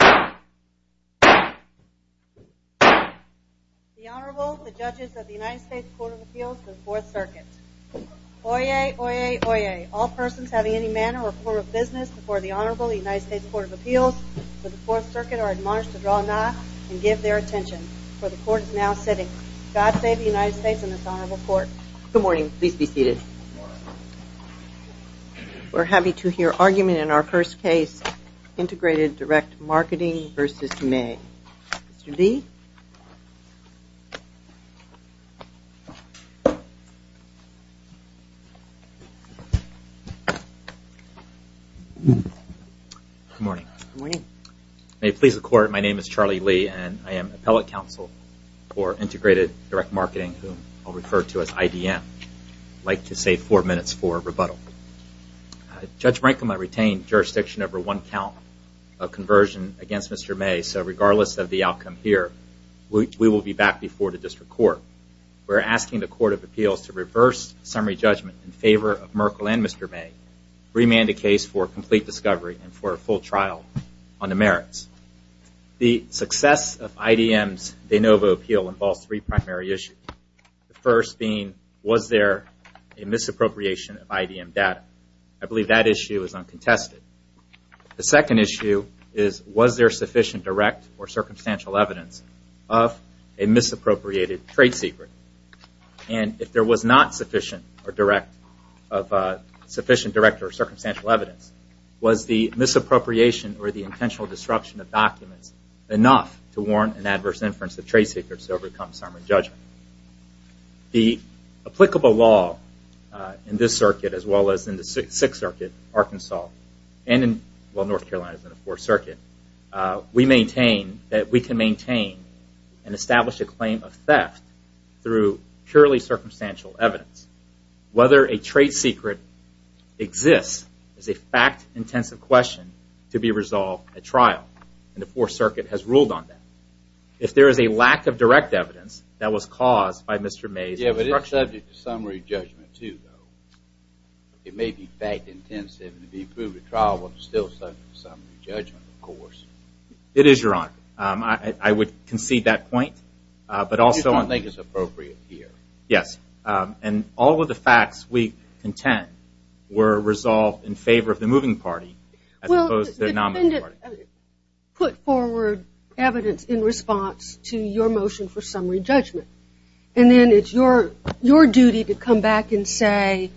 The Honorable, the Judges of the United States Court of Appeals for the Fourth Circuit. Oyez, oyez, oyez. All persons having any manner or form of business before the Honorable United States Court of Appeals for the Fourth Circuit are admonished to draw a nod and give their attention, for the Court is now sitting. God save the United States and this Honorable Court. Good morning. Please be seated. We're happy to hear argument in our first case, Integrated Direct Marketing v. May. Mr. Lee. Good morning. Good morning. May it please the Court, my name is Charlie Lee and I am Appellate Counsel for Integrated Direct Marketing, whom I'll refer to as IDM. I'd like to save four minutes for rebuttal. Judge Rankin might retain jurisdiction over one count of conversion against Mr. May, so regardless of the outcome here, we will be back before the District Court. We're asking the Court of Appeals to reverse summary judgment in favor of Merkle and Mr. May, remand the case for complete discovery and for a full trial on the merits. The success of IDM's de novo appeal involves three primary issues. The first being, was there a misappropriation of IDM data? I believe that issue is uncontested. The second issue is, was there sufficient direct or circumstantial evidence of a misappropriated trade secret? And if there was not sufficient direct or circumstantial evidence, was the misappropriation or the intentional disruption of documents enough to warrant an adverse inference of The applicable law in this circuit, as well as in the Sixth Circuit, Arkansas, and in North Carolina's Fourth Circuit, we maintain that we can maintain and establish a claim of theft through purely circumstantial evidence. Whether a trade secret exists is a fact-intensive question to be resolved at trial, and the Fourth Circuit has ruled on that. If there is a lack of direct evidence that was caused by Mr. May's instruction... Yeah, but it's subject to summary judgment, too, though. It may be fact-intensive, and if you prove the trial was still subject to summary judgment, of course. It is, Your Honor. I would concede that point, but also... You don't think it's appropriate here. Yes. And all of the facts we contend were resolved in favor of the moving party, as opposed to the non-moving party. The defendant put forward evidence in response to your motion for summary judgment, and then it's your duty to come back and say,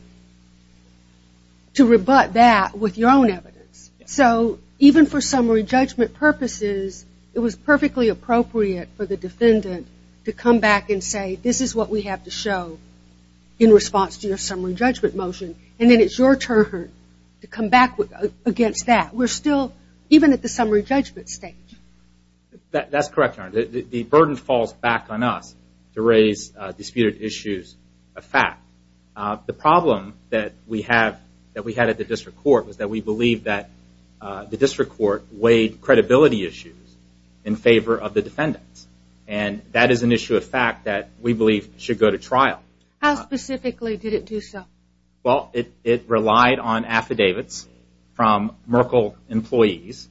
to rebut that with your own evidence. So, even for summary judgment purposes, it was perfectly appropriate for the defendant to come back and say, this is what we have to show in response to your summary judgment motion, and then it's your turn to come back against that. We're still even at the summary judgment stage. That's correct, Your Honor. The burden falls back on us to raise disputed issues of fact. The problem that we had at the district court was that we believed that the district court weighed credibility issues in favor of the defendants, and that is an issue of fact that we believe should go to trial. How specifically did it do so? Well, it relied on affidavits from Merkle employees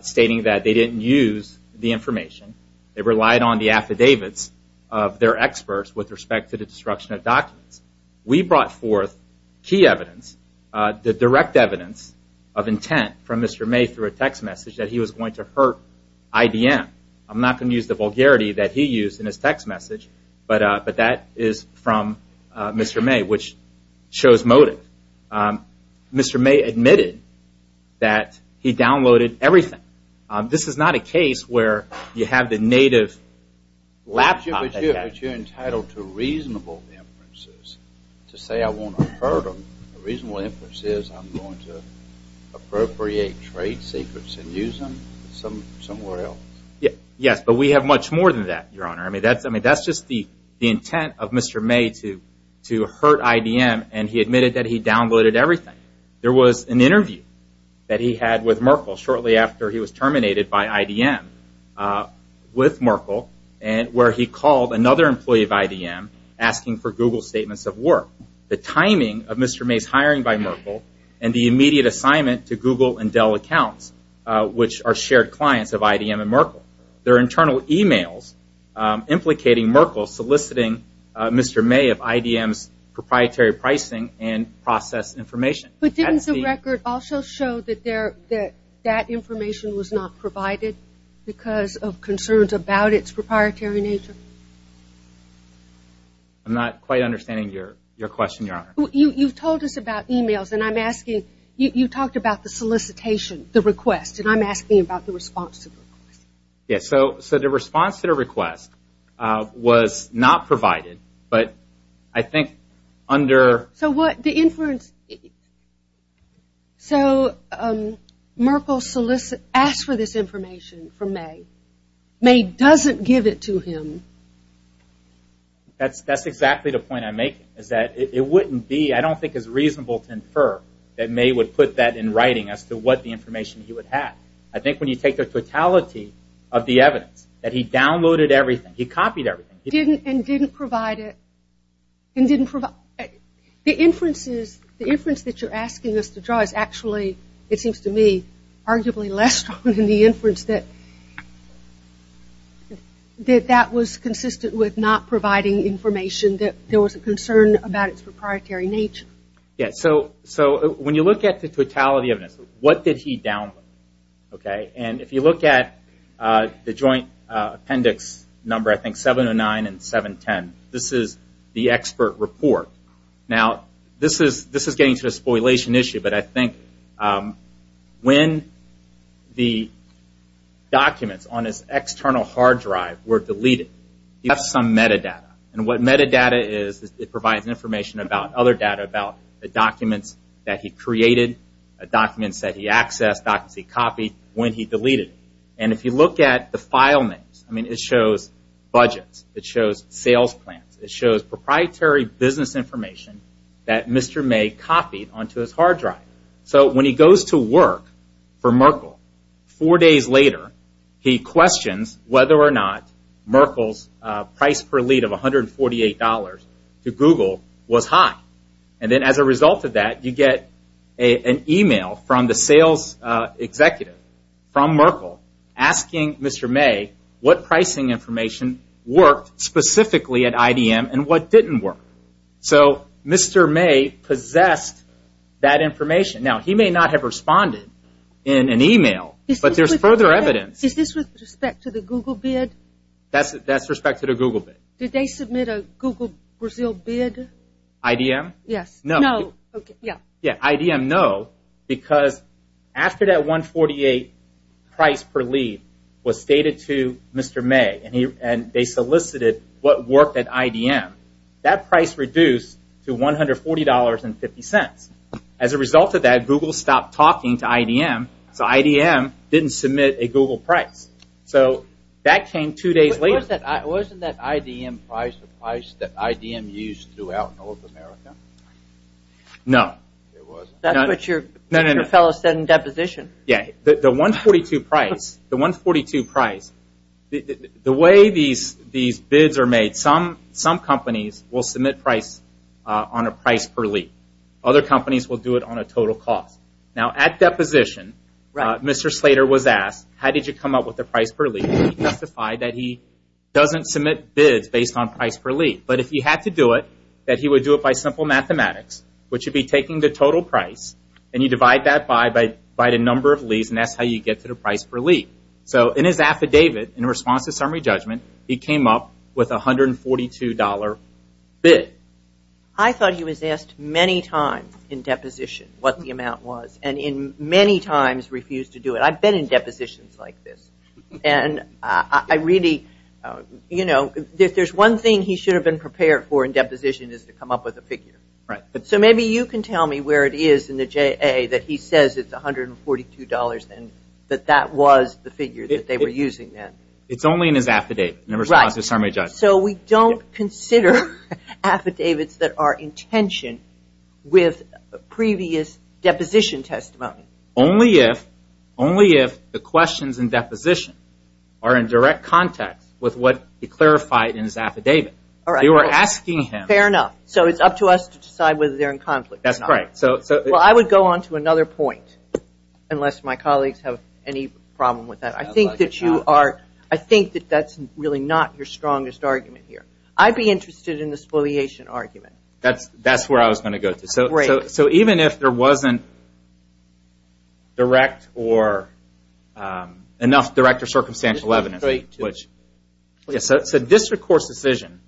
stating that they didn't use the information. They relied on the affidavits of their experts with respect to the destruction of documents. We brought forth key evidence, the direct evidence of intent from Mr. May through a text message that he was going to hurt IBM. I'm not going to use the vulgarity that he used in his text message, but that is from Mr. May, which shows motive. Mr. May admitted that he downloaded everything. This is not a case where you have the native laptop. But you're entitled to reasonable inferences to say I want to hurt them. The reasonable inference is I'm going to appropriate trade secrets and use them somewhere else. Yes, but we have much more than that, Your Honor. I mean, that's just the intent of Mr. May to hurt IBM, and he admitted that he downloaded everything. There was an interview that he had with Merkle shortly after he was terminated by IBM with Merkle where he called another employee of IBM asking for Google statements of work. The timing of Mr. May's hiring by Merkle and the immediate assignment to Google and Dell accounts, which are shared clients of IBM and Merkle. There are internal e-mails implicating Merkle soliciting Mr. May of IBM's proprietary pricing and process information. But didn't the record also show that that information was not provided because of concerns about its proprietary nature? I'm not quite understanding your question, Your Honor. You told us about e-mails, and I'm asking, you talked about the solicitation, the request, and I'm asking about the response to the request. Yes, so the response to the request was not provided, but I think under... So what the inference... So Merkle solicited, asked for this information from May. May doesn't give it to him. That's exactly the point I'm making, is that it wouldn't be, I don't think it's reasonable that May would put that in writing as to what the information he would have. I think when you take the totality of the evidence, that he downloaded everything, he copied everything. He didn't and didn't provide it, and didn't provide... The inferences, the inference that you're asking us to draw is actually, it seems to me, arguably less strong than the inference that that was consistent with not providing information, that there was a concern about its proprietary nature. Yes, so when you look at the totality of this, what did he download? And if you look at the joint appendix number, I think 709 and 710, this is the expert report. Now, this is getting to a spoliation issue, but I think when the documents on his external hard drive were deleted, he left some metadata, and what metadata is, it provides information about other data, about the documents that he created, documents that he accessed, documents he copied, when he deleted them. And if you look at the file names, I mean, it shows budgets, it shows sales plans, it shows proprietary business information that Mr. May copied onto his hard drive. So when he goes to work for Merkle, four days later, he questions whether or not Merkle's price per lead of $148 to Google was high. And then as a result of that, you get an email from the sales executive, from Merkle, asking Mr. May what pricing information worked specifically at IDM and what didn't work. So Mr. May possessed that information. Now, he may not have responded in an email, but there's further evidence. Is this with respect to the Google bid? That's with respect to the Google bid. Did they submit a Google Brazil bid? IDM? Yes. No. IDM, no, because after that $148 price per lead was stated to Mr. May, and they solicited what worked at IDM, that price reduced to $140.50. As a result of that, Google stopped talking to IDM, so IDM didn't submit a Google price. So that came two days later. Wasn't that IDM price the price that IDM used throughout North America? No. That's what your fellow said in deposition. The $142 price, the way these bids are made, some companies will submit price on a price per lead. Other companies will do it on a total cost. Now, at deposition, Mr. Slater was asked, how did you come up with the price per lead? He testified that he doesn't submit bids based on price per lead, but if he had to do it, that he would do it by simple mathematics, which would be taking the total price, and you divide that by the number of leads, and that's how you get to the price per lead. So in his affidavit, in response to summary judgment, he came up with a $142 bid. I thought he was asked many times in deposition what the amount was, and many times refused to do it. I've been in depositions like this, and I really, you know, there's one thing he should have been prepared for in deposition is to come up with a figure. Right. So maybe you can tell me where it is in the JA that he says it's $142, and that that was the figure that they were using then. It's only in his affidavit in response to summary judgment. Right. So we don't consider affidavits that are in tension with previous deposition testimony. Only if the questions in deposition are in direct context with what he clarified in his affidavit. All right. They were asking him. Fair enough. So it's up to us to decide whether they're in conflict or not. That's correct. Well, I would go on to another point, unless my colleagues have any problem with that. I think that you are, I think that that's really not your strongest argument here. I'd be interested in the spoliation argument. That's where I was going to go to. Great. So even if there wasn't direct or enough direct or circumstantial evidence, So district court's decision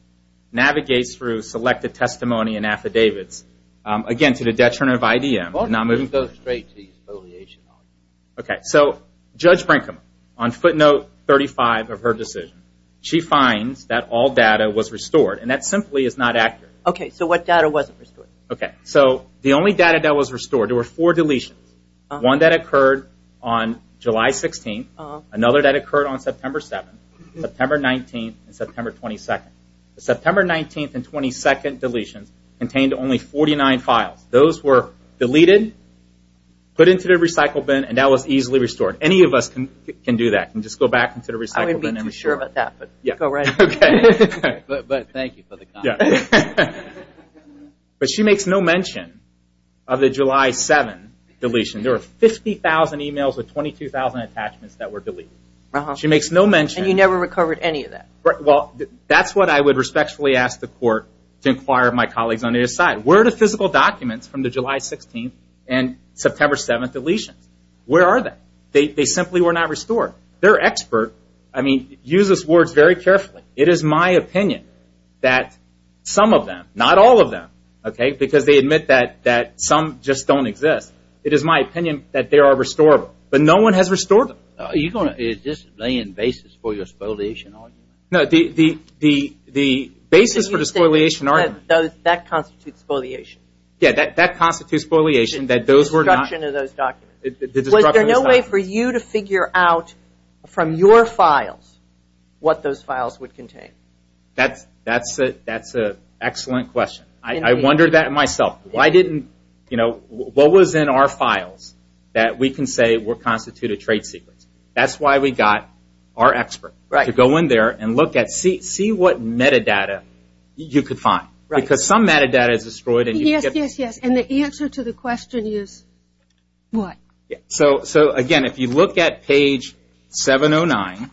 navigates through selected testimony and affidavits, again, to the detriment of IDM. Why don't we go straight to the spoliation argument? Okay. So Judge Brinkman, on footnote 35 of her decision, she finds that all data was restored, and that simply is not accurate. Okay. So what data wasn't restored? Okay. So the only data that was restored, there were four deletions, one that occurred on July 16th, another that occurred on September 7th, September 19th, and September 22nd. The September 19th and 22nd deletions contained only 49 files. Those were deleted, put into the recycle bin, and that was easily restored. Any of us can do that and just go back into the recycle bin. I wouldn't be too sure about that, but go right ahead. Okay. But thank you for the comment. But she makes no mention of the July 7th deletion. There were 50,000 emails with 22,000 attachments that were deleted. She makes no mention. And you never recovered any of that. Well, that's what I would respectfully ask the court to inquire of my colleagues on either side. Where are the physical documents from the July 16th and September 7th deletions? Where are they? They simply were not restored. Their expert, I mean, uses words very carefully. It is my opinion that some of them, not all of them, okay, because they admit that some just don't exist. It is my opinion that they are restorable. But no one has restored them. Are you going to lay in basis for your spoliation argument? No, the basis for the spoliation argument. That constitutes spoliation. Yeah, that constitutes spoliation. The destruction of those documents. Was there no way for you to figure out from your files what those files would contain? That's an excellent question. I wondered that myself. Why didn't, you know, what was in our files that we can say were constituted trade secrets? That's why we got our expert to go in there and look at, see what metadata you could find. Because some metadata is destroyed. Yes, yes, yes, and the answer to the question is what? So, again, if you look at page 709.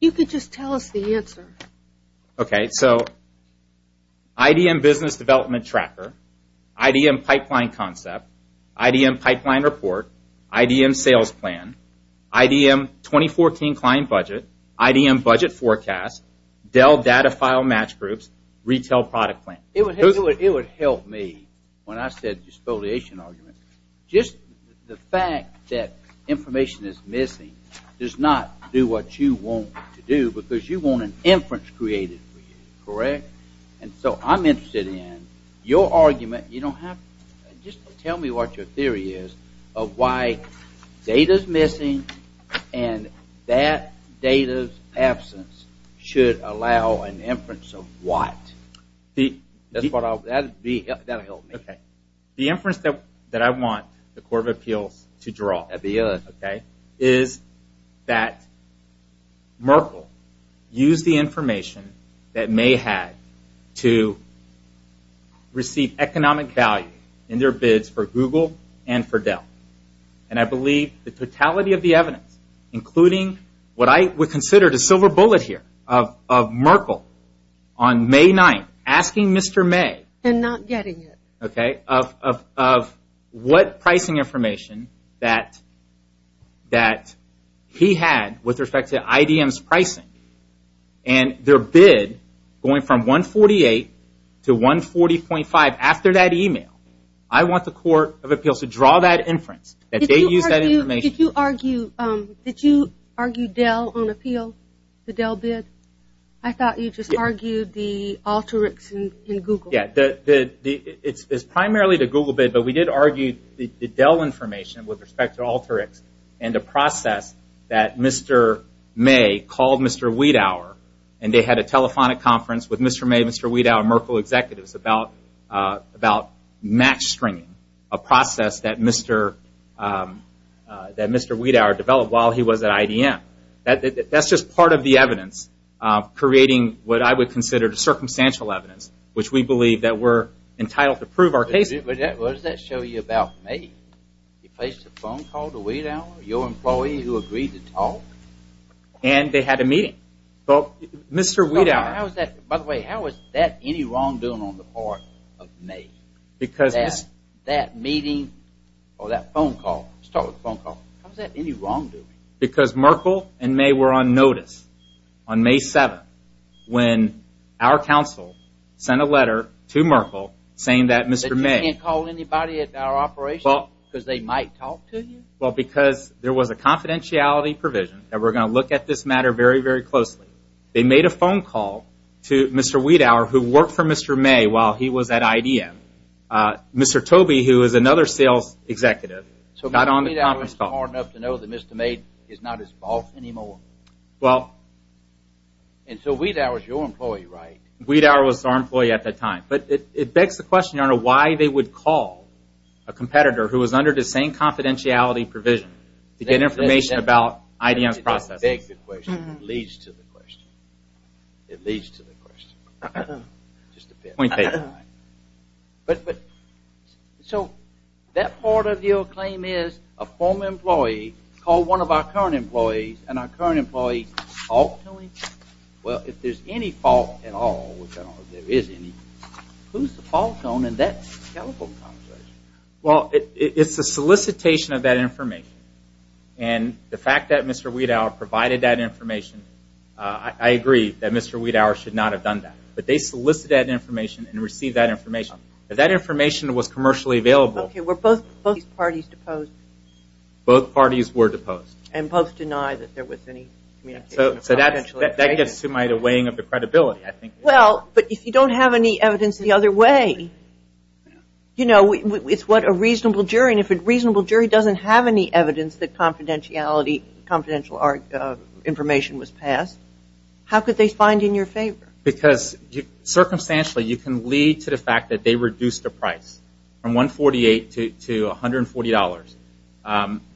You could just tell us the answer. Okay, so IDM business development tracker, IDM pipeline concept, IDM pipeline report, IDM sales plan, IDM 2014 client budget, IDM budget forecast, Dell data file match groups, retail product plan. It would help me when I said spoliation argument. Just the fact that information is missing does not do what you want it to do, because you want an inference created for you, correct? And so I'm interested in your argument. You don't have, just tell me what your theory is of why data is missing and that data's absence should allow an inference of what? That would help me. The inference that I want the Court of Appeals to draw is that Merkle used the information that May had to receive economic value in their bids for Google and for Dell. And I believe the totality of the evidence, including what I would consider the silver bullet here of Merkle on May 9th, asking Mr. May of what pricing information that he had with respect to IDM's pricing and their bid going from 148 to 140.5 after that email. I want the Court of Appeals to draw that inference, that they used that information. Did you argue Dell on appeal, the Dell bid? I thought you just argued the Alteryx and Google. Yeah, it's primarily the Google bid, but we did argue the Dell information with respect to Alteryx and the process that Mr. May called Mr. Wiedauer and they had a telephonic conference with Mr. May, Mr. Wiedauer, and Merkle executives about match stringing, a process that Mr. Wiedauer developed while he was at IDM. That's just part of the evidence creating what I would consider the circumstantial evidence, which we believe that we're entitled to prove our case. But what does that show you about May? He placed a phone call to Wiedauer, your employee who agreed to talk? And they had a meeting. By the way, how is that any wrongdoing on the part of May? That meeting or that phone call, let's start with the phone call, how is that any wrongdoing? Because Merkle and May were on notice on May 7th when our counsel sent a letter to Merkle saying that Mr. May... That you can't call anybody at our operation because they might talk to you? Well, because there was a confidentiality provision that we're going to look at this matter very, very closely. They made a phone call to Mr. Wiedauer who worked for Mr. May while he was at IDM. Mr. Tobey, who is another sales executive, got on the conference call. So Wiedauer was smart enough to know that Mr. May is not his boss anymore? Well... And so Wiedauer was your employee, right? Wiedauer was our employee at that time. But it begs the question, Your Honor, why they would call a competitor who was under the same confidentiality provision to get information about IDM's processes. It begs the question. It leads to the question. It leads to the question. Point taken. But... So that part of your claim is a former employee called one of our current employees and our current employee... Well, if there's any fault at all, which I don't know if there is any, who's the fault in that telephone conversation? Well, it's the solicitation of that information. And the fact that Mr. Wiedauer provided that information, I agree that Mr. Wiedauer should not have done that. But they solicited that information and received that information. If that information was commercially available... Okay, were both parties deposed? Both parties were deposed. And both denied that there was any communication at all? So that gets to my weighing of the credibility, I think. Well, but if you don't have any evidence the other way, you know, it's what a reasonable jury, and if a reasonable jury doesn't have any evidence that confidentiality, confidential information was passed, how could they find in your favor? Because circumstantially you can lead to the fact that they reduced the price from $148 to $140.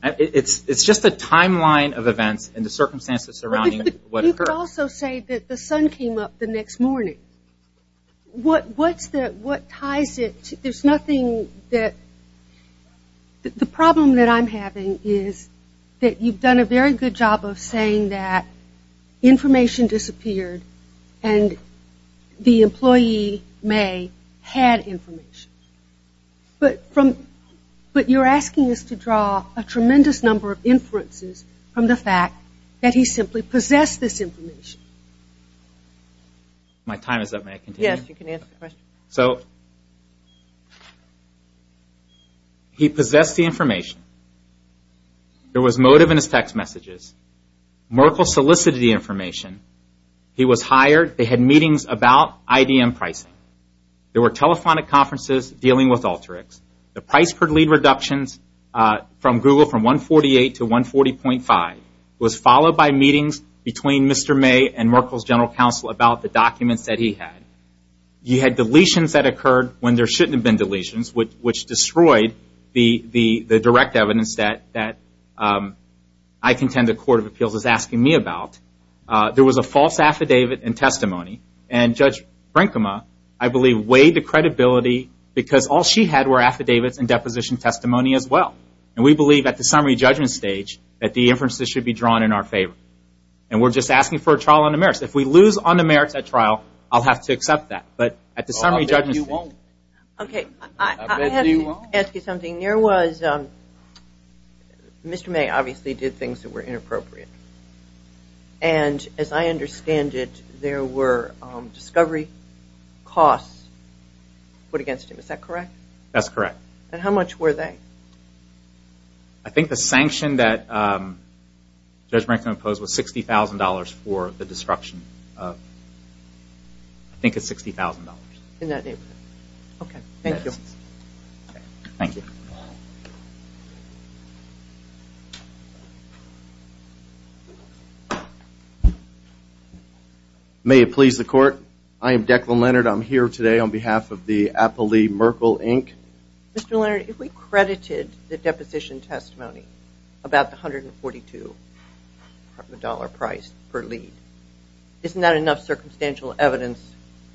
It's just the timeline of events and the circumstances surrounding what occurred. But you could also say that the sun came up the next morning. What ties it? There's nothing that... The problem that I'm having is that you've done a very good job of saying that information disappeared and the employee may have had information. But you're asking us to draw a tremendous number of inferences from the fact that he simply possessed this information. My time is up. May I continue? Yes, you can answer the question. He possessed the information. There was motive in his text messages. Merkel solicited the information. He was hired. They had meetings about IDM pricing. There were telephonic conferences dealing with alterics. The price per lead reductions from Google from $148 to $140.5 was followed by meetings between Mr. May and Merkel's general counsel about the documents that he had. You had deletions that occurred when there shouldn't have been deletions, which destroyed the direct evidence that I contend the Court of Appeals is asking me about. There was a false affidavit and testimony. And Judge Brinkema, I believe, weighed the credibility because all she had were affidavits and deposition testimony as well. And we believe at the summary judgment stage that the inferences should be drawn in our favor. And we're just asking for a trial on the merits. If we lose on the merits at trial, I'll have to accept that. But at the summary judgment stage. I'll bet you won't. Okay. I'll bet you won't. I have to ask you something. There was Mr. May obviously did things that were inappropriate. And as I understand it, there were discovery costs put against him. Is that correct? That's correct. And how much were they? I think the sanction that Judge Brinkema imposed was $60,000 for the destruction. I think it's $60,000. In that neighborhood. Okay. Thank you. Thank you. May it please the Court. I am Declan Leonard. I'm here today on behalf of the Applee Merkle, Inc. Mr. Leonard, if we credited the deposition testimony about the $142 price per lead, isn't that enough circumstantial evidence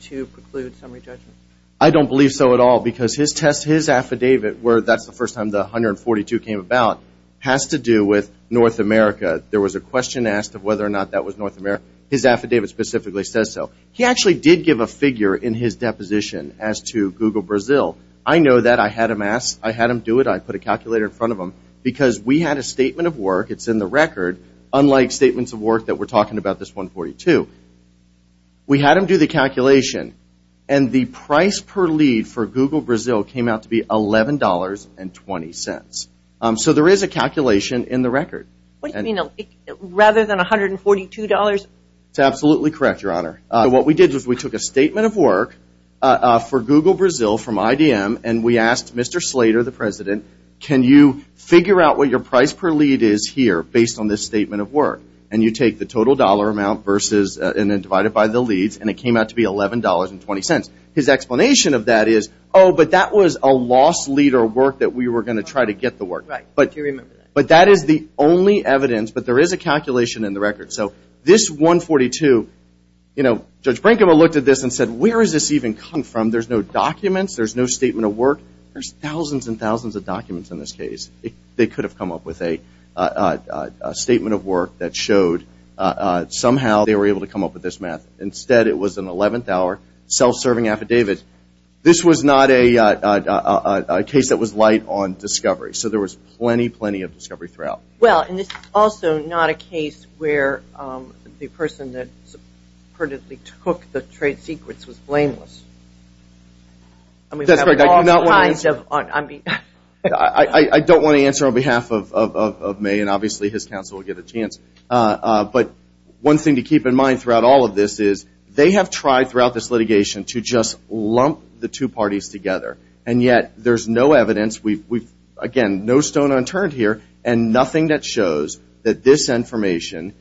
to preclude summary judgment? I don't believe so at all because his affidavit, where that's the first time the $142 came about, has to do with North America. There was a question asked of whether or not that was North America. His affidavit specifically says so. He actually did give a figure in his deposition as to Google Brazil. I know that. I had him do it. I put a calculator in front of him. Because we had a statement of work, it's in the record, unlike statements of work that we're talking about this $142. We had him do the calculation, and the price per lead for Google Brazil came out to be $11.20. So there is a calculation in the record. What do you mean? Rather than $142? That's absolutely correct, Your Honor. What we did was we took a statement of work for Google Brazil from IDM, and we asked Mr. Slater, the president, can you figure out what your price per lead is here based on this statement of work? And you take the total dollar amount and then divide it by the leads, and it came out to be $11.20. His explanation of that is, oh, but that was a lost lead or work that we were going to try to get the work. Do you remember that? But that is the only evidence, but there is a calculation in the record. So this $142, you know, Judge Branko looked at this and said, where does this even come from? There's no documents. There's no statement of work. There's thousands and thousands of documents in this case. They could have come up with a statement of work that showed somehow they were able to come up with this math. Instead, it was an 11th-hour self-serving affidavit. This was not a case that was light on discovery. So there was plenty, plenty of discovery throughout. Well, and this is also not a case where the person that supposedly took the trade secrets was blameless. That's right. I do not want to answer. I mean. I don't want to answer on behalf of May, and obviously his counsel will get a chance. But one thing to keep in mind throughout all of this is they have tried throughout this litigation to just lump the two parties together, and yet there's no evidence. Again, no stone unturned here, and nothing that shows that this information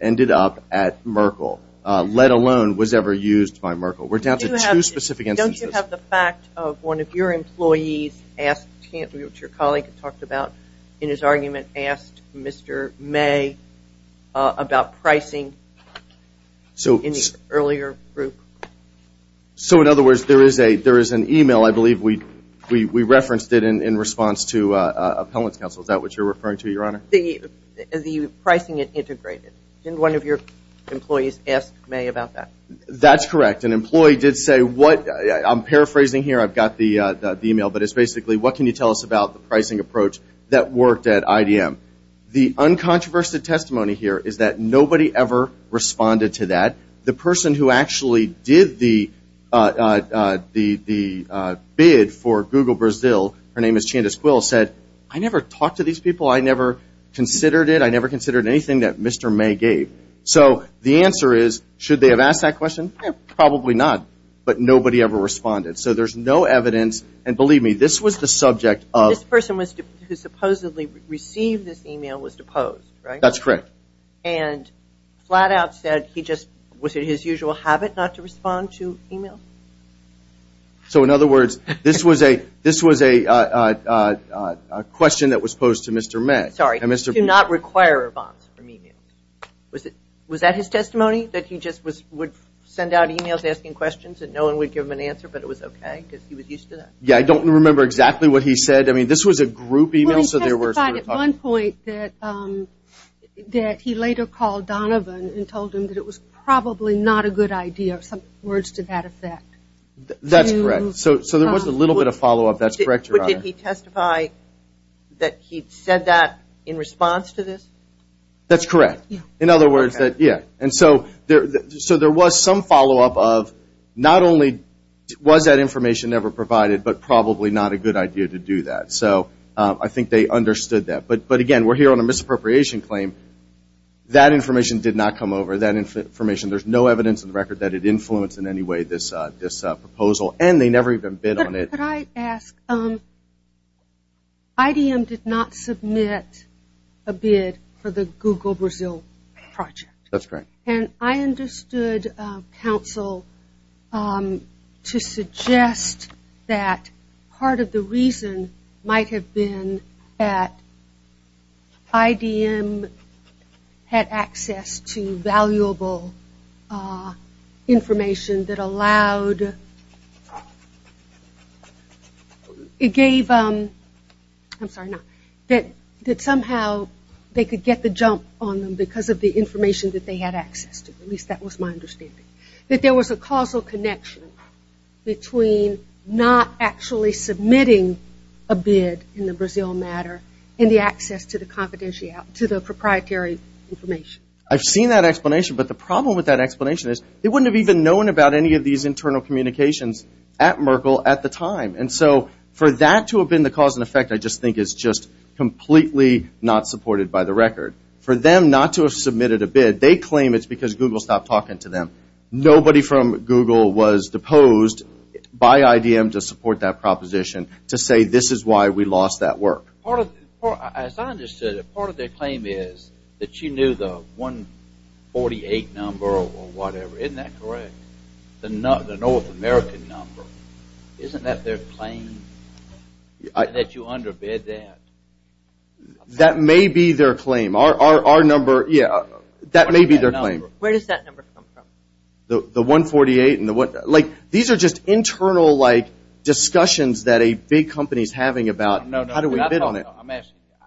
ended up at Merkle, let alone was ever used by Merkle. We're down to two specific instances. Don't you have the fact of one of your employees asked, which your colleague talked about in his argument, asked Mr. May about pricing in the earlier group? Well, I believe we referenced it in response to Appellant's counsel. Is that what you're referring to, Your Honor? The pricing it integrated. Didn't one of your employees ask May about that? That's correct. An employee did say what, I'm paraphrasing here, I've got the email, but it's basically what can you tell us about the pricing approach that worked at IDM? The uncontroversial testimony here is that nobody ever responded to that. The person who actually did the bid for Google Brazil, her name is Candace Quill, said, I never talked to these people. I never considered it. I never considered anything that Mr. May gave. So the answer is, should they have asked that question? Probably not. But nobody ever responded. So there's no evidence, and believe me, this was the subject of. This person who supposedly received this email was deposed, right? That's correct. And flat out said he just, was it his usual habit not to respond to emails? So, in other words, this was a question that was posed to Mr. May. Sorry, do not require bonds from emails. Was that his testimony, that he just would send out emails asking questions and no one would give him an answer, but it was okay because he was used to that? Yeah, I don't remember exactly what he said. I mean, this was a group email. He testified at one point that he later called Donovan and told him that it was probably not a good idea, some words to that effect. That's correct. So there was a little bit of follow-up. That's correct, Your Honor. But did he testify that he said that in response to this? That's correct. In other words, yeah. And so there was some follow-up of not only was that information never provided, but probably not a good idea to do that. So I think they understood that. But, again, we're here on a misappropriation claim. That information did not come over. There's no evidence on the record that it influenced in any way this proposal, and they never even bid on it. Could I ask, IDM did not submit a bid for the Google Brazil project. That's correct. And I understood, counsel, to suggest that part of the reason might have been that IDM had access to valuable information that allowed, it gave, I'm sorry, that somehow they could get the jump on them because of the information that they had access to. At least that was my understanding. That there was a causal connection between not actually submitting a bid in the Brazil matter and the access to the proprietary information. I've seen that explanation, but the problem with that explanation is they wouldn't have even known about any of these internal communications at Merkle at the time. And so for that to have been the cause and effect I just think is just completely not supported by the record. For them not to have submitted a bid, they claim it's because Google stopped talking to them. Nobody from Google was deposed by IDM to support that proposition to say this is why we lost that work. As I understood it, part of their claim is that you knew the 148 number or whatever. Isn't that correct? The North American number. Isn't that their claim? That you underbid that? That may be their claim. Our number, yeah, that may be their claim. Where does that number come from? The 148. These are just internal discussions that a big company is having about how do we bid on it.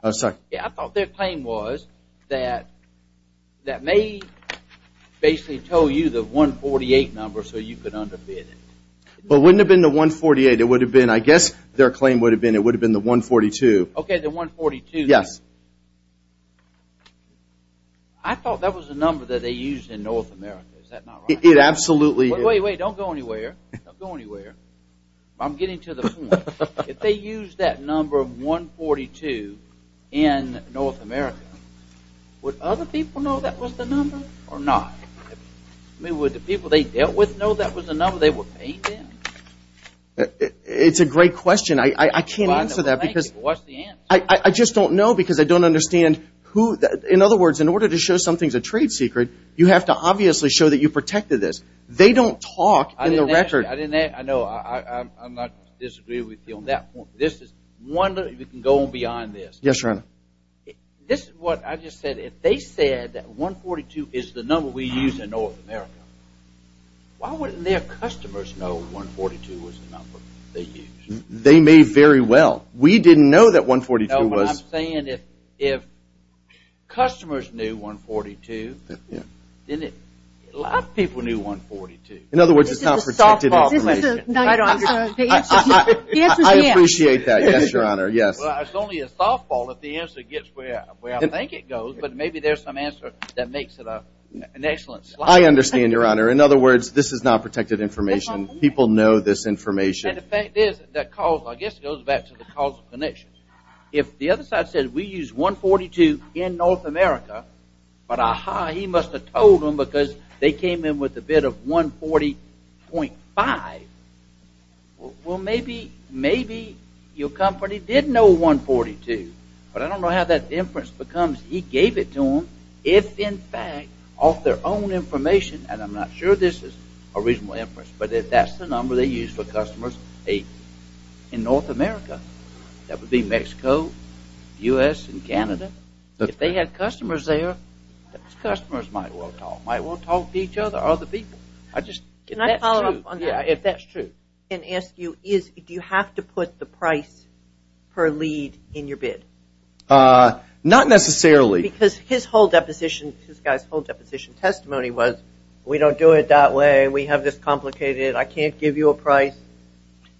I thought their claim was that they basically told you the 148 number so you could underbid it. It wouldn't have been the 148. It would have been, I guess their claim would have been, it would have been the 142. Okay, the 142. Yes. I thought that was the number that they used in North America. Is that not right? It absolutely is. Wait, wait, don't go anywhere. Don't go anywhere. I'm getting to the point. If they used that number 142 in North America, would other people know that was the number or not? I mean, would the people they dealt with know that was the number they were paying them? It's a great question. I can't answer that because I just don't know because I don't understand who. In other words, in order to show something's a trade secret, you have to obviously show that you protected this. They don't talk in the record. I know. I'm not disagreeing with you on that point. Yes, Your Honor. This is what I just said. If they said that 142 is the number we use in North America, why wouldn't their customers know 142 was the number they used? They may very well. We didn't know that 142 was. No, but I'm saying if customers knew 142, then a lot of people knew 142. In other words, it's not protected information. This is a softball. I don't understand. The answer is yes. I appreciate that. Yes, Your Honor, yes. Well, it's only a softball if the answer gets where I think it goes, but maybe there's some answer that makes it an excellent slide. I understand, Your Honor. In other words, this is not protected information. People know this information. And the fact is, I guess it goes back to the causal connection. If the other side said we use 142 in North America, but ah-ha, he must have told them because they came in with a bid of 140.5, well, maybe your company did know 142, but I don't know how that inference becomes he gave it to them, if, in fact, off their own information, and I'm not sure this is a reasonable inference, but if that's the number they used for customers in North America, that would be Mexico, U.S., and Canada. If they had customers there, those customers might well talk to each other, other people. Can I follow up on that? Yeah, if that's true. And ask you, do you have to put the price per lead in your bid? Not necessarily. Because his whole deposition, this guy's whole deposition testimony was, we don't do it that way. We have this complicated. I can't give you a price.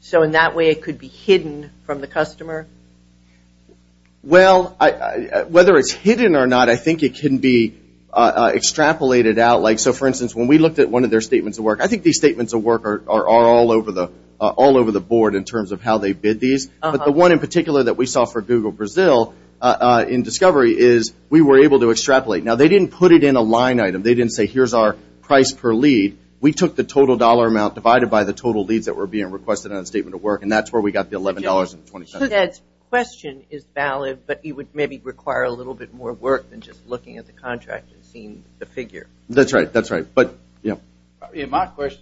So in that way, it could be hidden from the customer? Well, whether it's hidden or not, I think it can be extrapolated out. So, for instance, when we looked at one of their statements of work, I think these statements of work are all over the board in terms of how they bid these. But the one in particular that we saw for Google Brazil in discovery is we were able to extrapolate. Now, they didn't put it in a line item. They didn't say, here's our price per lead. We took the total dollar amount divided by the total leads that were being requested on the statement of work, and that's where we got the $11.27. So that question is valid, but it would maybe require a little bit more work than just looking at the contract and seeing the figure. That's right. That's right. But, yeah. Really, my question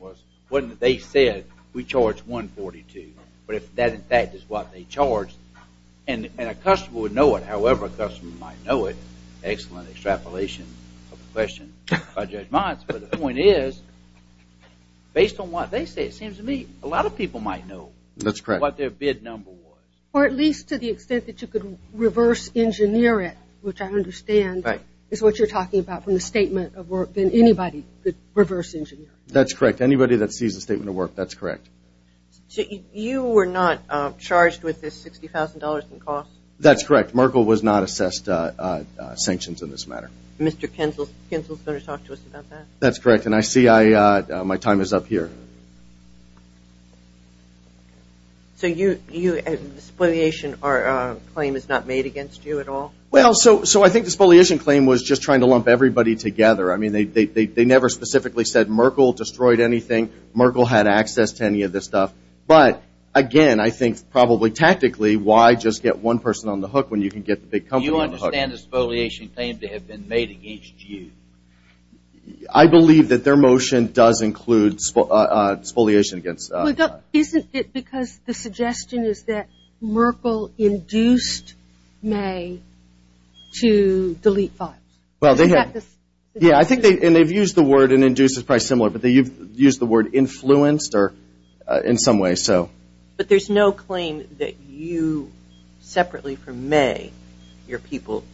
was, wasn't it they said we charge $142, but if that, in fact, is what they charged, and a customer would know it, however a customer might know it, excellent extrapolation of the question by Judge Mons, but the point is, based on what they say, it seems to me a lot of people might know what their bid number was. Or at least to the extent that you could reverse engineer it, which I understand is what you're talking about from the statement of work, then anybody could reverse engineer it. That's correct. Anybody that sees the statement of work, that's correct. So you were not charged with this $60,000 in costs? That's correct. Merkle was not assessed sanctions in this matter. Mr. Kinzel is going to talk to us about that. That's correct, and I see my time is up here. So the spoliation claim is not made against you at all? Well, so I think the spoliation claim was just trying to lump everybody together. I mean, they never specifically said Merkle destroyed anything. Merkle had access to any of this stuff. But, again, I think probably tactically, why just get one person on the hook when you can get the big company on the hook? Do you understand the spoliation claim to have been made against you? I believe that their motion does include spoliation against. Isn't it because the suggestion is that Merkle induced May to delete files? Yeah, and they've used the word, and induced is probably similar, but they've used the word influenced in some way. But there's no claim that you, separately from May, your people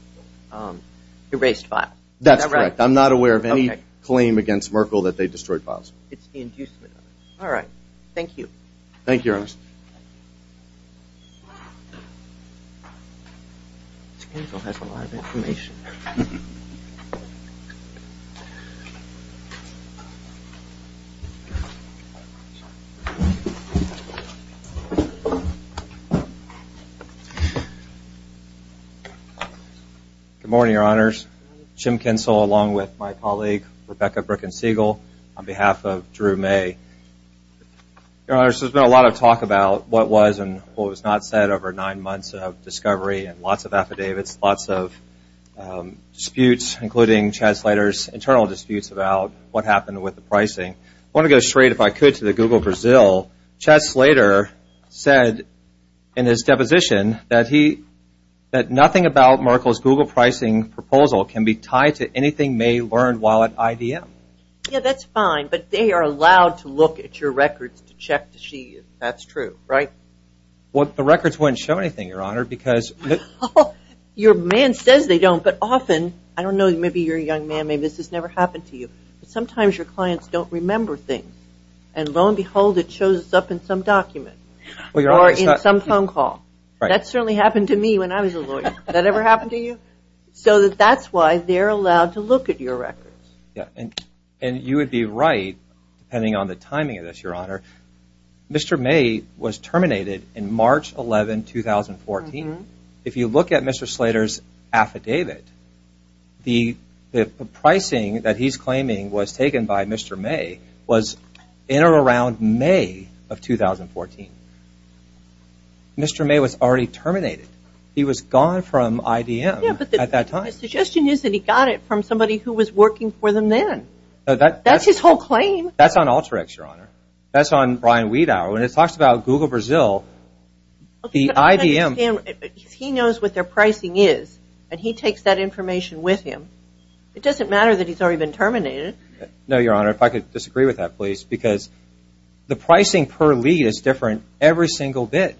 erased files. That's correct. I'm not aware of any claim against Merkle that they destroyed files. It's the inducement. All right. Thank you. Good morning, Your Honors. Jim Kinsel, along with my colleague, Rebecca Brickensiegel, on behalf of Drew May. Your Honors, there's been a lot of talk about what was and what was not said over nine months of discovery and lots of affidavits, lots of disputes, including Chad Slater's internal disputes about what happened with the pricing. I want to go straight, if I could, to the Google Brazil. Chad Slater said in his deposition that nothing about Merkle's Google pricing proposal can be tied to anything May learned while at IBM. Yeah, that's fine. But they are allowed to look at your records to check to see if that's true, right? Well, the records wouldn't show anything, Your Honor. Your man says they don't, but often, I don't know, maybe you're a young man, maybe this has never happened to you, but sometimes your clients don't remember things, and lo and behold, it shows up in some document or in some phone call. That certainly happened to me when I was a lawyer. Did that ever happen to you? So that's why they're allowed to look at your records. And you would be right, depending on the timing of this, Your Honor, Mr. May was terminated in March 11, 2014. If you look at Mr. Slater's affidavit, the pricing that he's claiming was taken by Mr. May was in or around May of 2014. Mr. May was already terminated. He was gone from IDM at that time. Yeah, but the suggestion is that he got it from somebody who was working for them then. That's his whole claim. That's on Alteryx, Your Honor. That's on Brian Wiedauer. When it talks about Google Brazil, the IDM – He knows what their pricing is, and he takes that information with him. It doesn't matter that he's already been terminated. No, Your Honor, if I could disagree with that, please, because the pricing per lead is different every single bit.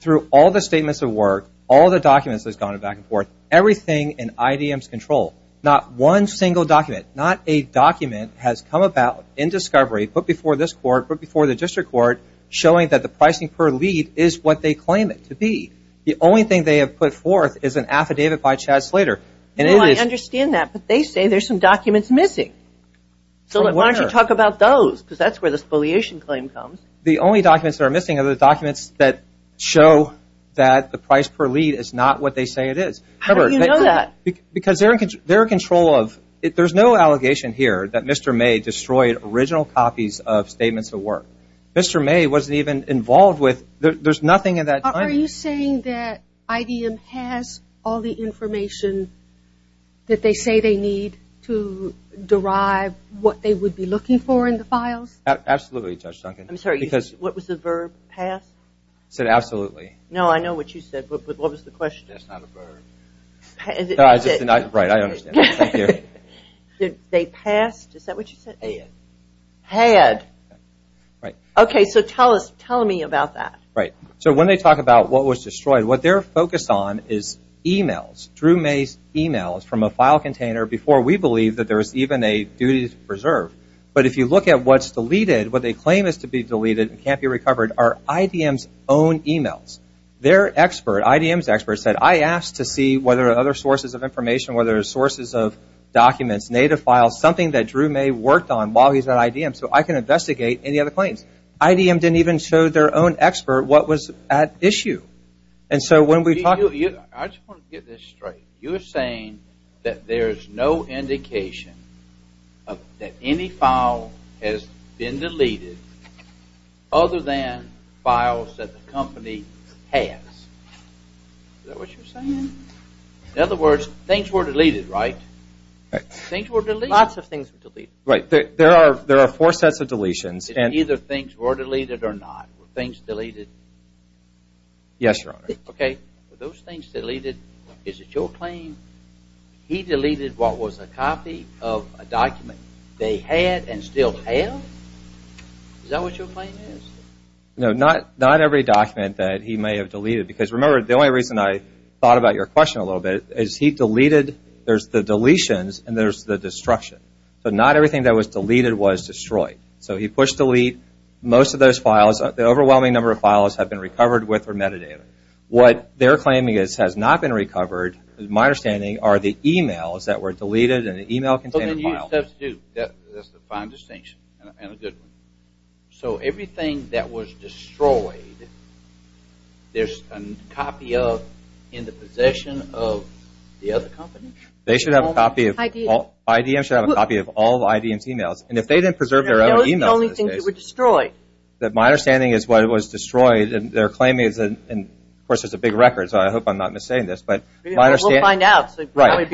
Through all the statements of work, all the documents that have gone back and forth, everything in IDM's control, not one single document, not a document has come about in discovery, put before this court, put before the district court, showing that the pricing per lead is what they claim it to be. The only thing they have put forth is an affidavit by Chad Slater. No, I understand that, but they say there's some documents missing. So why don't you talk about those, because that's where the spoliation claim comes. The only documents that are missing are the documents that show that the price per lead is not what they say it is. How do you know that? Because they're in control of – there's no allegation here that Mr. May destroyed original copies of statements of work. Mr. May wasn't even involved with – there's nothing in that document. Are you saying that IDM has all the information that they say they need to derive what they would be looking for in the files? Absolutely, Judge Duncan. I'm sorry. What was the verb? Pass? I said absolutely. No, I know what you said, but what was the question? That's not a verb. Is it? Right, I understand. Thank you. Did they pass? Is that what you said? Had. Had. Right. Okay, so tell me about that. Right. So when they talk about what was destroyed, what they're focused on is emails, Drew May's emails from a file container before we believe that there was even a duty to preserve. But if you look at what's deleted, what they claim is to be deleted and can't be recovered are IDM's own emails. Their expert, IDM's expert said, I asked to see whether there are other sources of information, whether there are sources of documents, native files, something that Drew May worked on while he was at IDM so I can investigate any other claims. IDM didn't even show their own expert what was at issue. And so when we talk – I just want to get this straight. You're saying that there is no indication that any file has been deleted other than files that the company has. Is that what you're saying? In other words, things were deleted, right? Things were deleted. Lots of things were deleted. Right. There are four sets of deletions. It's either things were deleted or not. Were things deleted? Yes, Your Honor. Okay. Were those things deleted? Is it your claim he deleted what was a copy of a document they had and still have? Is that what your claim is? No, not every document that he may have deleted because, remember, the only reason I thought about your question a little bit is he deleted – there's the deletions and there's the destruction. So not everything that was deleted was destroyed. So he pushed delete. Most of those files, the overwhelming number of files, have been recovered with or metadata. What they're claiming has not been recovered, is my understanding, are the emails that were deleted in an email-contained file. But then you substitute. That's the fine distinction and a good one. So everything that was destroyed, there's a copy of in the possession of the other company? They should have a copy of – IDM. IDM should have a copy of all of IDM's emails. And if they didn't preserve their own emails in this case – Those are the only things that were destroyed. My understanding is what was destroyed, their claim is – and, of course, it's a big record, so I hope I'm not misstating this. We'll find out. Right.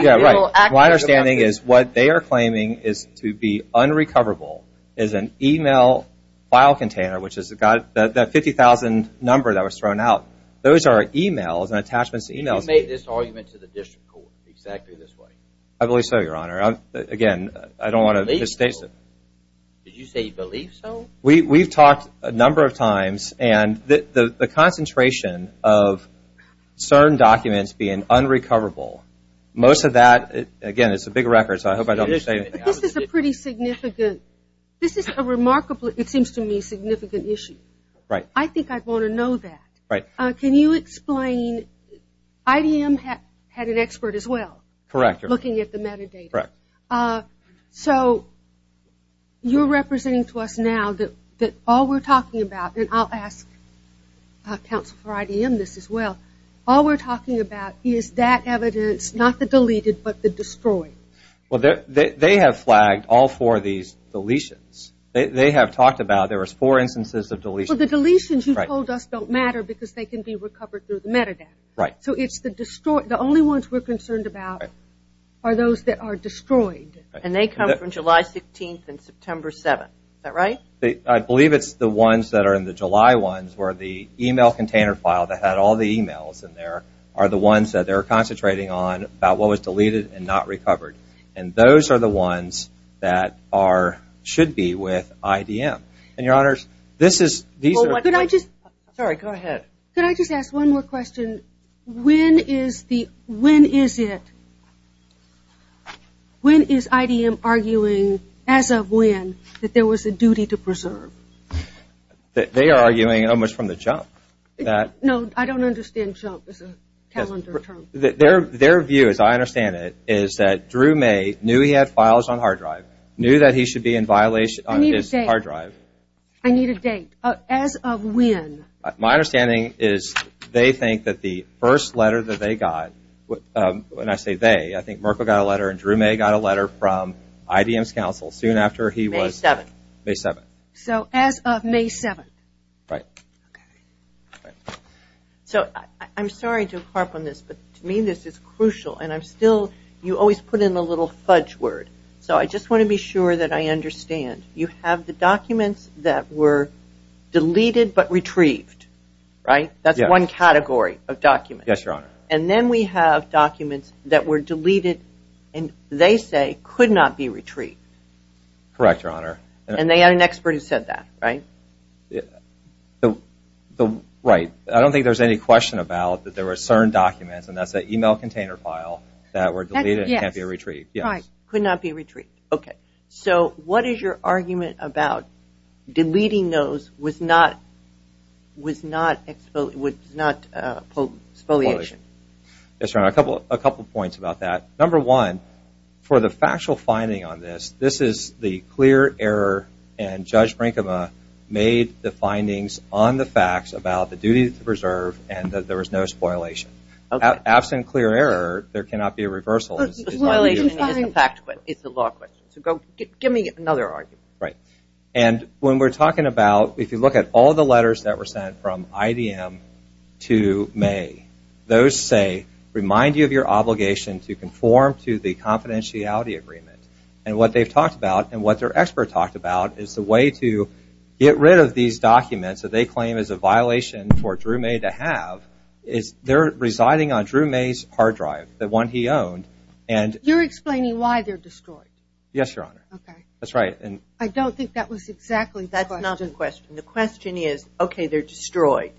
My understanding is what they are claiming is to be unrecoverable is an email file container, which has got that 50,000 number that was thrown out. Those are emails and attachments to emails. You made this argument to the district court exactly this way. I believe so, Your Honor. Again, I don't want to misstate it. Did you say you believe so? We've talked a number of times, and the concentration of certain documents being unrecoverable, most of that – again, it's a big record, so I hope I don't misstate it. This is a pretty significant – this is a remarkably, it seems to me, significant issue. Right. I think I'd want to know that. Right. Can you explain – IDM had an expert as well. Correct. Looking at the metadata. Correct. So you're representing to us now that all we're talking about – and I'll ask counsel for IDM this as well – all we're talking about is that evidence, not the deleted, but the destroyed. Well, they have flagged all four of these deletions. They have talked about there was four instances of deletions. Well, the deletions you told us don't matter because they can be recovered through the metadata. Right. So it's the destroyed – the only ones we're concerned about are those that are destroyed. And they come from July 16th and September 7th. Is that right? I believe it's the ones that are in the July ones where the e-mail container file that had all the e-mails in there are the ones that they're concentrating on about what was deleted and not recovered. And those are the ones that are – should be with IDM. And, Your Honors, this is – these are – Could I just – Sorry, go ahead. Could I just ask one more question? When is the – when is it – when is IDM arguing, as of when, that there was a duty to preserve? They are arguing almost from the jump. No, I don't understand jump as a calendar term. Their view, as I understand it, is that Drew May knew he had files on hard drive, knew that he should be in violation on his hard drive. I need a date. I need a date. As of when? My understanding is they think that the first letter that they got – when I say they, I think Merkle got a letter and Drew May got a letter from IDM's counsel soon after he was – May 7th. May 7th. So as of May 7th. Right. Okay. So I'm sorry to harp on this, but to me this is crucial. And I'm still – you always put in the little fudge word. So I just want to be sure that I understand. You have the documents that were deleted but retrieved, right? That's one category of documents. Yes, Your Honor. And then we have documents that were deleted and they say could not be retrieved. Correct, Your Honor. And they had an expert who said that, right? Right. I don't think there's any question about that there were certain documents, and that's that email container file, that were deleted and can't be retrieved. Yes. Could not be retrieved. Okay. So what is your argument about deleting those was not – was not – was not spoliation? Yes, Your Honor. A couple points about that. Number one, for the factual finding on this, this is the clear error, and Judge Brinkema made the findings on the facts about the duty to preserve and that there was no spoliation. Okay. Absent clear error, there cannot be a reversal. It's a fact – it's a law question. So give me another argument. Right. And when we're talking about – if you look at all the letters that were sent from IDM to May, those say, remind you of your obligation to conform to the confidentiality agreement. And what they've talked about and what their expert talked about is the way to get rid of these documents that they claim is a violation for Drew May to have is they're residing on Drew May's hard drive, the one he owned, and – You're explaining why they're destroyed. Yes, Your Honor. Okay. That's right. I don't think that was exactly the question. That's not the question. The question is, okay, they're destroyed.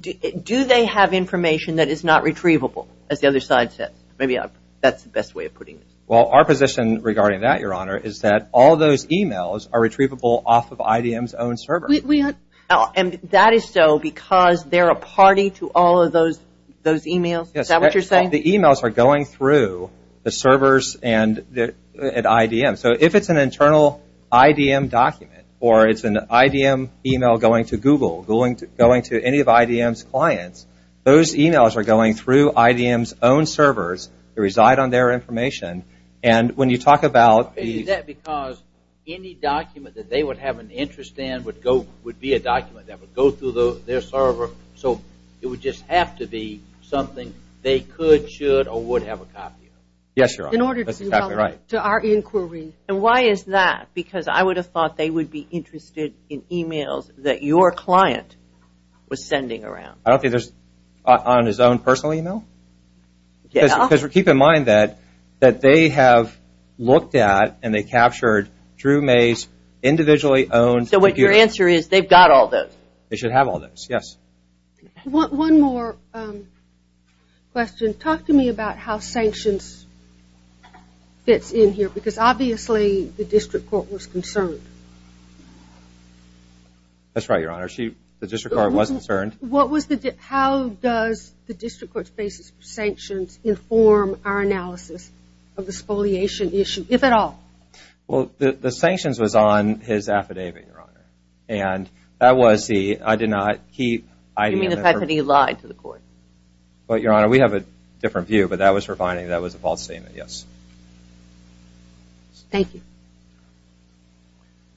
Do they have information that is not retrievable, as the other side says? Maybe that's the best way of putting it. Well, our position regarding that, Your Honor, is that all those emails are retrievable off of IDM's own server. And that is so because they're a party to all of those emails? Is that what you're saying? The emails are going through the servers at IDM. So if it's an internal IDM document or it's an IDM email going to Google, going to any of IDM's clients, those emails are going through IDM's own servers. They reside on their information. And when you talk about these – Is that because any document that they would have an interest in would be a document that would go through their server, so it would just have to be something they could, should, or would have a copy of? Yes, Your Honor. That's exactly right. To our inquiry. And why is that? Because I would have thought they would be interested in emails that your client was sending around. I don't think there's – on his own personal email? Yeah. Because keep in mind that they have looked at and they captured Drew May's individually owned computer. So what your answer is, they've got all those? They should have all those, yes. One more question. Talk to me about how sanctions fits in here, because obviously the district court was concerned. That's right, Your Honor. The district court was concerned. How does the district court's basis for sanctions inform our analysis of the spoliation issue, if at all? Well, the sanctions was on his affidavit, Your Honor. And that was the – I did not keep – You mean the fact that he lied to the court? Well, Your Honor, we have a different view, but that was for finding that was a false statement, yes. Thank you.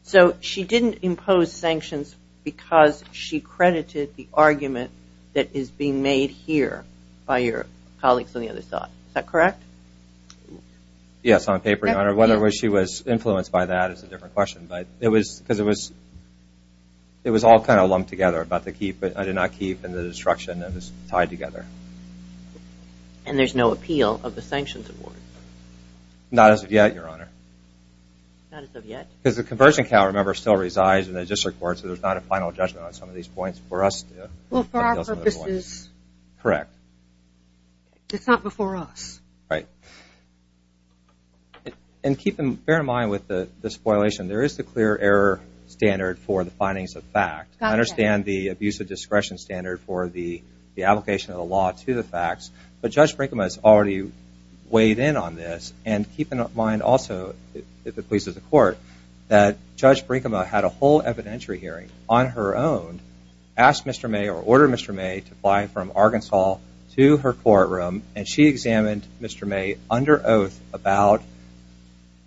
So she didn't impose sanctions because she credited the argument that is being made here by your colleagues on the other side. Is that correct? Yes, on paper, Your Honor. Whether she was influenced by that is a different question. But it was – because it was – it was all kind of lumped together about the keep, but I did not keep, and the destruction that was tied together. And there's no appeal of the sanctions award? Not as of yet, Your Honor. Not as of yet? Because the conversion count, remember, still resides in the district court, so there's not a final judgment on some of these points for us to – Well, for our purposes. Correct. It's not before us. Right. And keep in – bear in mind with the spoilation, there is the clear error standard for the findings of fact. I understand the abuse of discretion standard for the application of the law to the facts, but Judge Brinkema has already weighed in on this, and keep in mind also, if it pleases the court, that Judge Brinkema had a whole evidentiary hearing on her own, asked Mr. May or ordered Mr. May to fly from Arkansas to her courtroom, and she examined Mr. May under oath about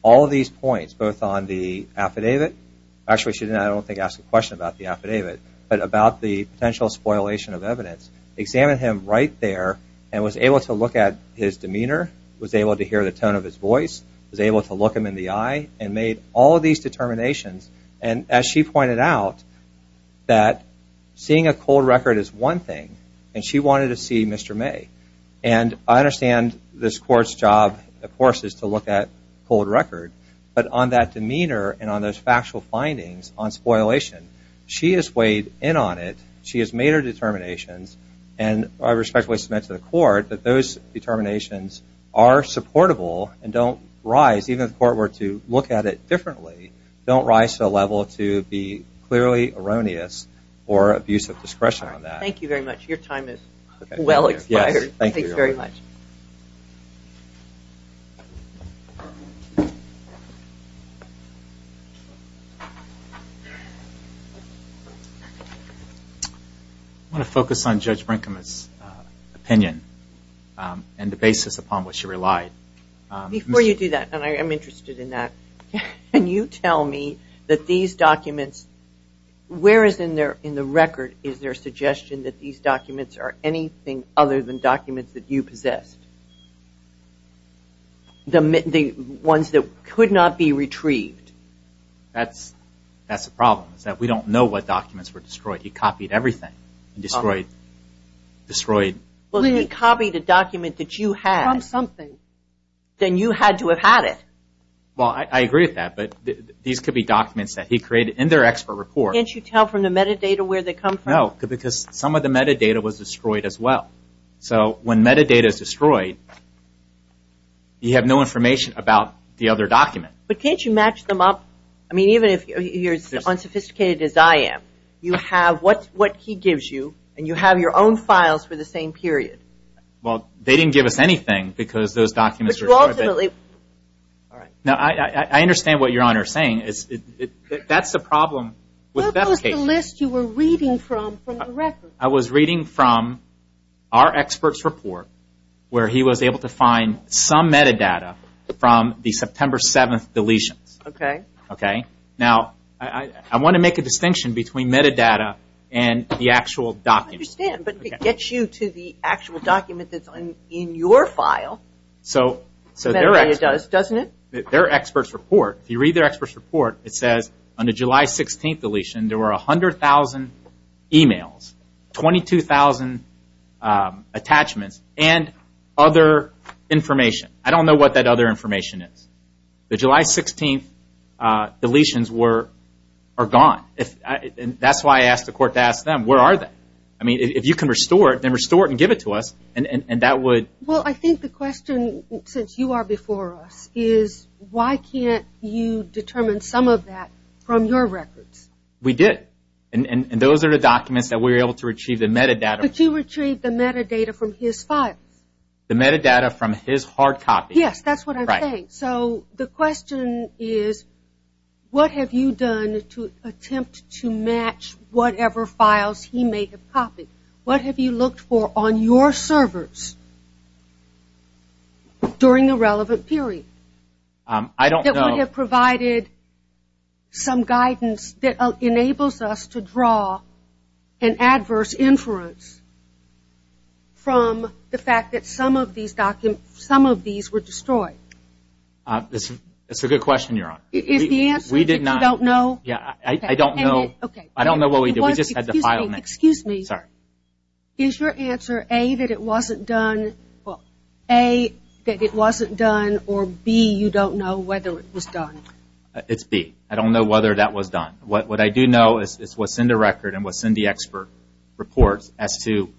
all of these points, both on the affidavit – actually, she didn't, I don't think, ask a question about the affidavit, but about the potential spoilation of evidence, examined him right there and was able to look at his demeanor, was able to hear the tone of his voice, was able to look him in the eye, and made all of these determinations. And as she pointed out, that seeing a cold record is one thing, and she wanted to see Mr. May. And I understand this court's job, of course, is to look at cold record, but on that demeanor and on those factual findings on spoilation, she has weighed in on it, she has made her determinations, and I respectfully submit to the court that those determinations are supportable and don't rise – even if the court were to look at it differently, don't rise to the level to be clearly erroneous or abuse of discretion on that. Thank you very much. Your time is well expired. Thank you very much. I want to focus on Judge Brinkman's opinion and the basis upon which she relied. Before you do that, and I am interested in that, can you tell me that these documents – whereas in the record is there suggestion that these documents are anything other than documents that you possessed? The ones that could not be retrieved? That's the problem, is that we don't know what documents were destroyed. He copied everything and destroyed – He copied a document that you had. From something. Then you had to have had it. Well, I agree with that, but these could be documents that he created in their expert report. Can't you tell from the metadata where they come from? No, because some of the metadata was destroyed as well. So when metadata is destroyed, you have no information about the other document. But can't you match them up? I mean, even if you're as unsophisticated as I am, you have what he gives you, and you have your own files for the same period. Well, they didn't give us anything because those documents were destroyed. But you ultimately – Now, I understand what Your Honor is saying. That's the problem with that case. What was the list you were reading from, from the record? I was reading from our expert's report where he was able to find some metadata from the September 7th deletions. Okay. Okay. Now, I want to make a distinction between metadata and the actual documents. I understand, but it gets you to the actual document that's in your file, metadata does, doesn't it? Their expert's report, if you read their expert's report, it says on the July 16th deletion, there were 100,000 emails, 22,000 attachments, and other information. I don't know what that other information is. The July 16th deletions are gone. That's why I asked the court to ask them, where are they? I mean, if you can restore it, then restore it and give it to us, and that would – Well, I think the question, since you are before us, is why can't you determine some of that from your records? We did. And those are the documents that we were able to retrieve the metadata. But you retrieved the metadata from his files. The metadata from his hard copy. Yes, that's what I'm saying. Right. So the question is, what have you done to attempt to match whatever files he may have copied? What have you looked for on your servers during the relevant period? I don't know. That would have provided some guidance that enables us to draw an adverse inference from the fact that some of these were destroyed. That's a good question, Your Honor. Is the answer that you don't know? I don't know. I don't know what we did. We just had to file next. Excuse me. Sorry. Is your answer A, that it wasn't done, or B, you don't know whether it was done? It's B. I don't know whether that was done. What I do know is what's in the record and what's in the expert reports as to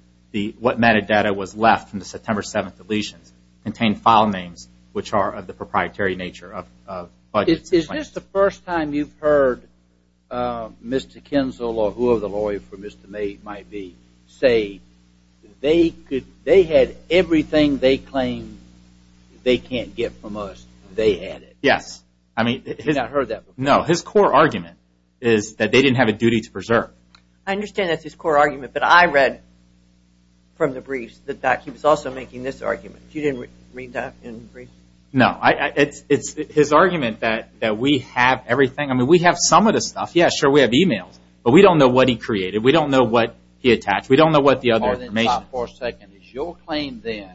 what metadata was left from the September 7th deletions contain file names which are of the proprietary nature of budgets. Is this the first time you've heard Mr. Kinzel or whoever the lawyer for Mr. May might be say they had everything they claim they can't get from us, they had it? Yes. You've not heard that before? No. His core argument is that they didn't have a duty to preserve. I understand that's his core argument, but I read from the briefs that he was also making this argument. You didn't read that in the brief? No. It's his argument that we have everything. I mean, we have some of the stuff. Yes, sure, we have e-mails, but we don't know what he created. We don't know what he attached. We don't know what the other information is. Hold on for a second. Is your claim then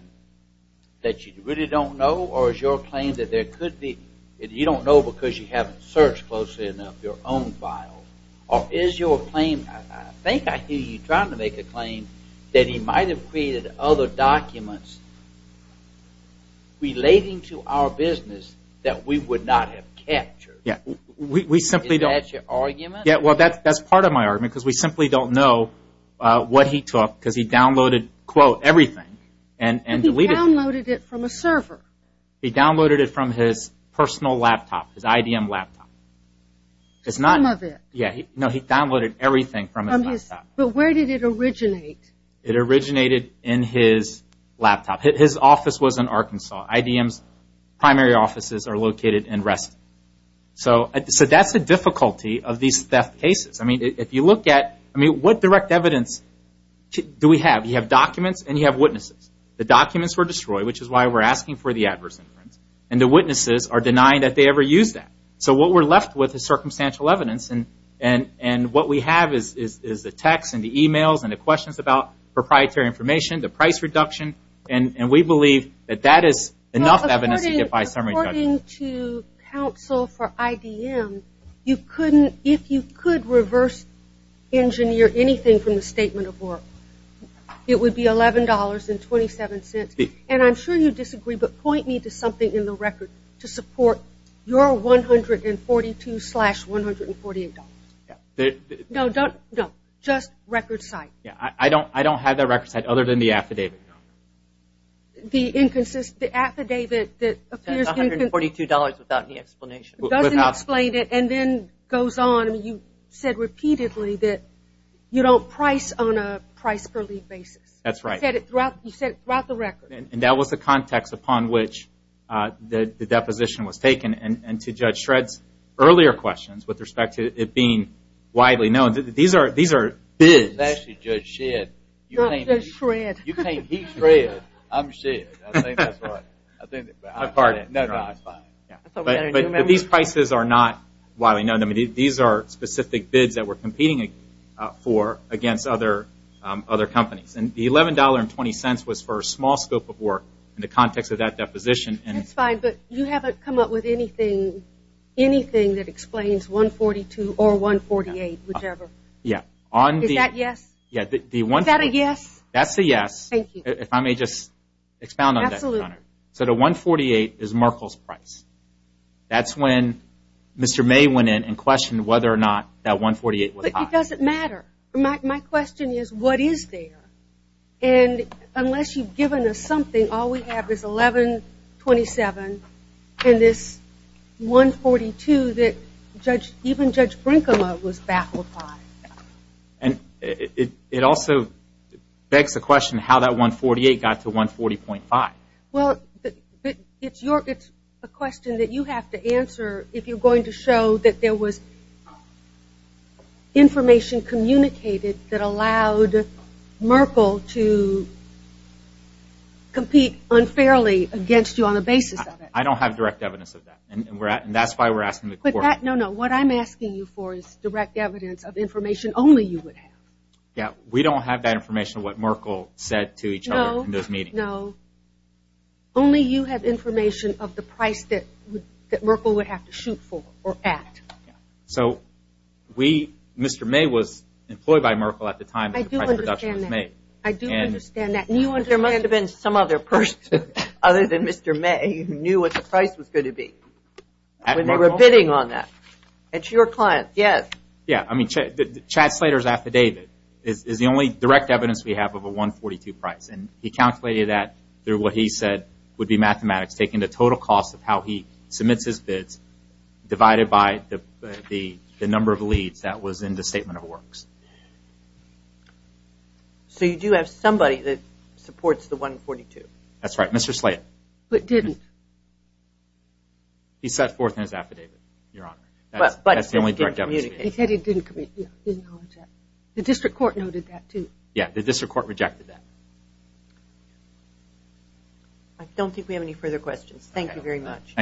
that you really don't know, or is your claim that you don't know because you haven't searched closely enough your own files, or is your claim, I think I hear you trying to make a claim, that he might have created other documents relating to our business that we would not have captured? Yes, we simply don't. Is that your argument? Yes, well, that's part of my argument because we simply don't know what he took because he downloaded, quote, everything and deleted it. He downloaded it from a server. He downloaded it from his personal laptop, his IDM laptop. Some of it. No, he downloaded everything from his laptop. But where did it originate? It originated in his laptop. His office was in Arkansas. IDM's primary offices are located in Reston. So that's the difficulty of these theft cases. I mean, if you look at, I mean, what direct evidence do we have? You have documents and you have witnesses. The documents were destroyed, which is why we're asking for the adverse inference, and the witnesses are denying that they ever used that. So what we're left with is circumstantial evidence, and what we have is the text and the e-mails and the questions about proprietary information, the price reduction, and we believe that that is enough evidence to get by a summary judgment. According to counsel for IDM, if you could reverse engineer anything from the statement of work, it would be $11.27, and I'm sure you disagree, but point me to something in the record to support your $142-$148. No, don't. No, just record site. I don't have that record site other than the affidavit. The affidavit that appears in theó That's $142 without any explanation. It doesn't explain it and then goes on. I mean, you said repeatedly that you don't price on a price per lead basis. That's right. You said it throughout the record. And that was the context upon which the deposition was taken, and to Judge Shred's earlier questions with respect to it being widely known, these areó It's actually Judge Shed. Not Judge Shred. You can'tóhe's Shred, I'm Shed. I think that's right. My pardon. No, that's fine. But these prices are not widely known. I mean, these are specific bids that we're competing for against other companies. And the $11.20 was for a small scope of work in the context of that deposition. That's fine. But you haven't come up with anything that explains $142 or $148, whichever. Yeah. Is that a yes? Yeah. Is that a yes? That's a yes. Thank you. If I may just expound on that, Your Honor. Absolutely. So the $148 is Merkle's price. That's when Mr. May went in and questioned whether or not that $148 was high. But it doesn't matter. My question is, what is there? And unless you've given us something, all we have is $11.27 and this $142 that even Judge Brinkema was baffled by. And it also begs the question how that $148 got to $140.5. Well, it's a question that you have to answer if you're going to show that there was information communicated that allowed Merkle to compete unfairly against you on the basis of it. I don't have direct evidence of that, and that's why we're asking the court. No, no. What I'm asking you for is direct evidence of information only you would have. Yeah. We don't have that information, what Merkle said to each other in those meetings. No. Only you have information of the price that Merkle would have to shoot for or at. So Mr. May was employed by Merkle at the time that the price reduction was made. I do understand that. I do understand that. There must have been some other person other than Mr. May who knew what the price was going to be when they were bidding on that. It's your client, yes. Yeah. I mean, Chad Slater's affidavit is the only direct evidence we have of a $142 price. And he calculated that through what he said would be mathematics, taking the total cost of how he submits his bids divided by the number of leads that was in the statement of works. So you do have somebody that supports the $142? That's right, Mr. Slater. But didn't. He set forth in his affidavit, Your Honor. That's the only direct evidence we have. He said he didn't. The district court noted that, too. Yeah, the district court rejected that. I don't think we have any further questions. Thank you very much.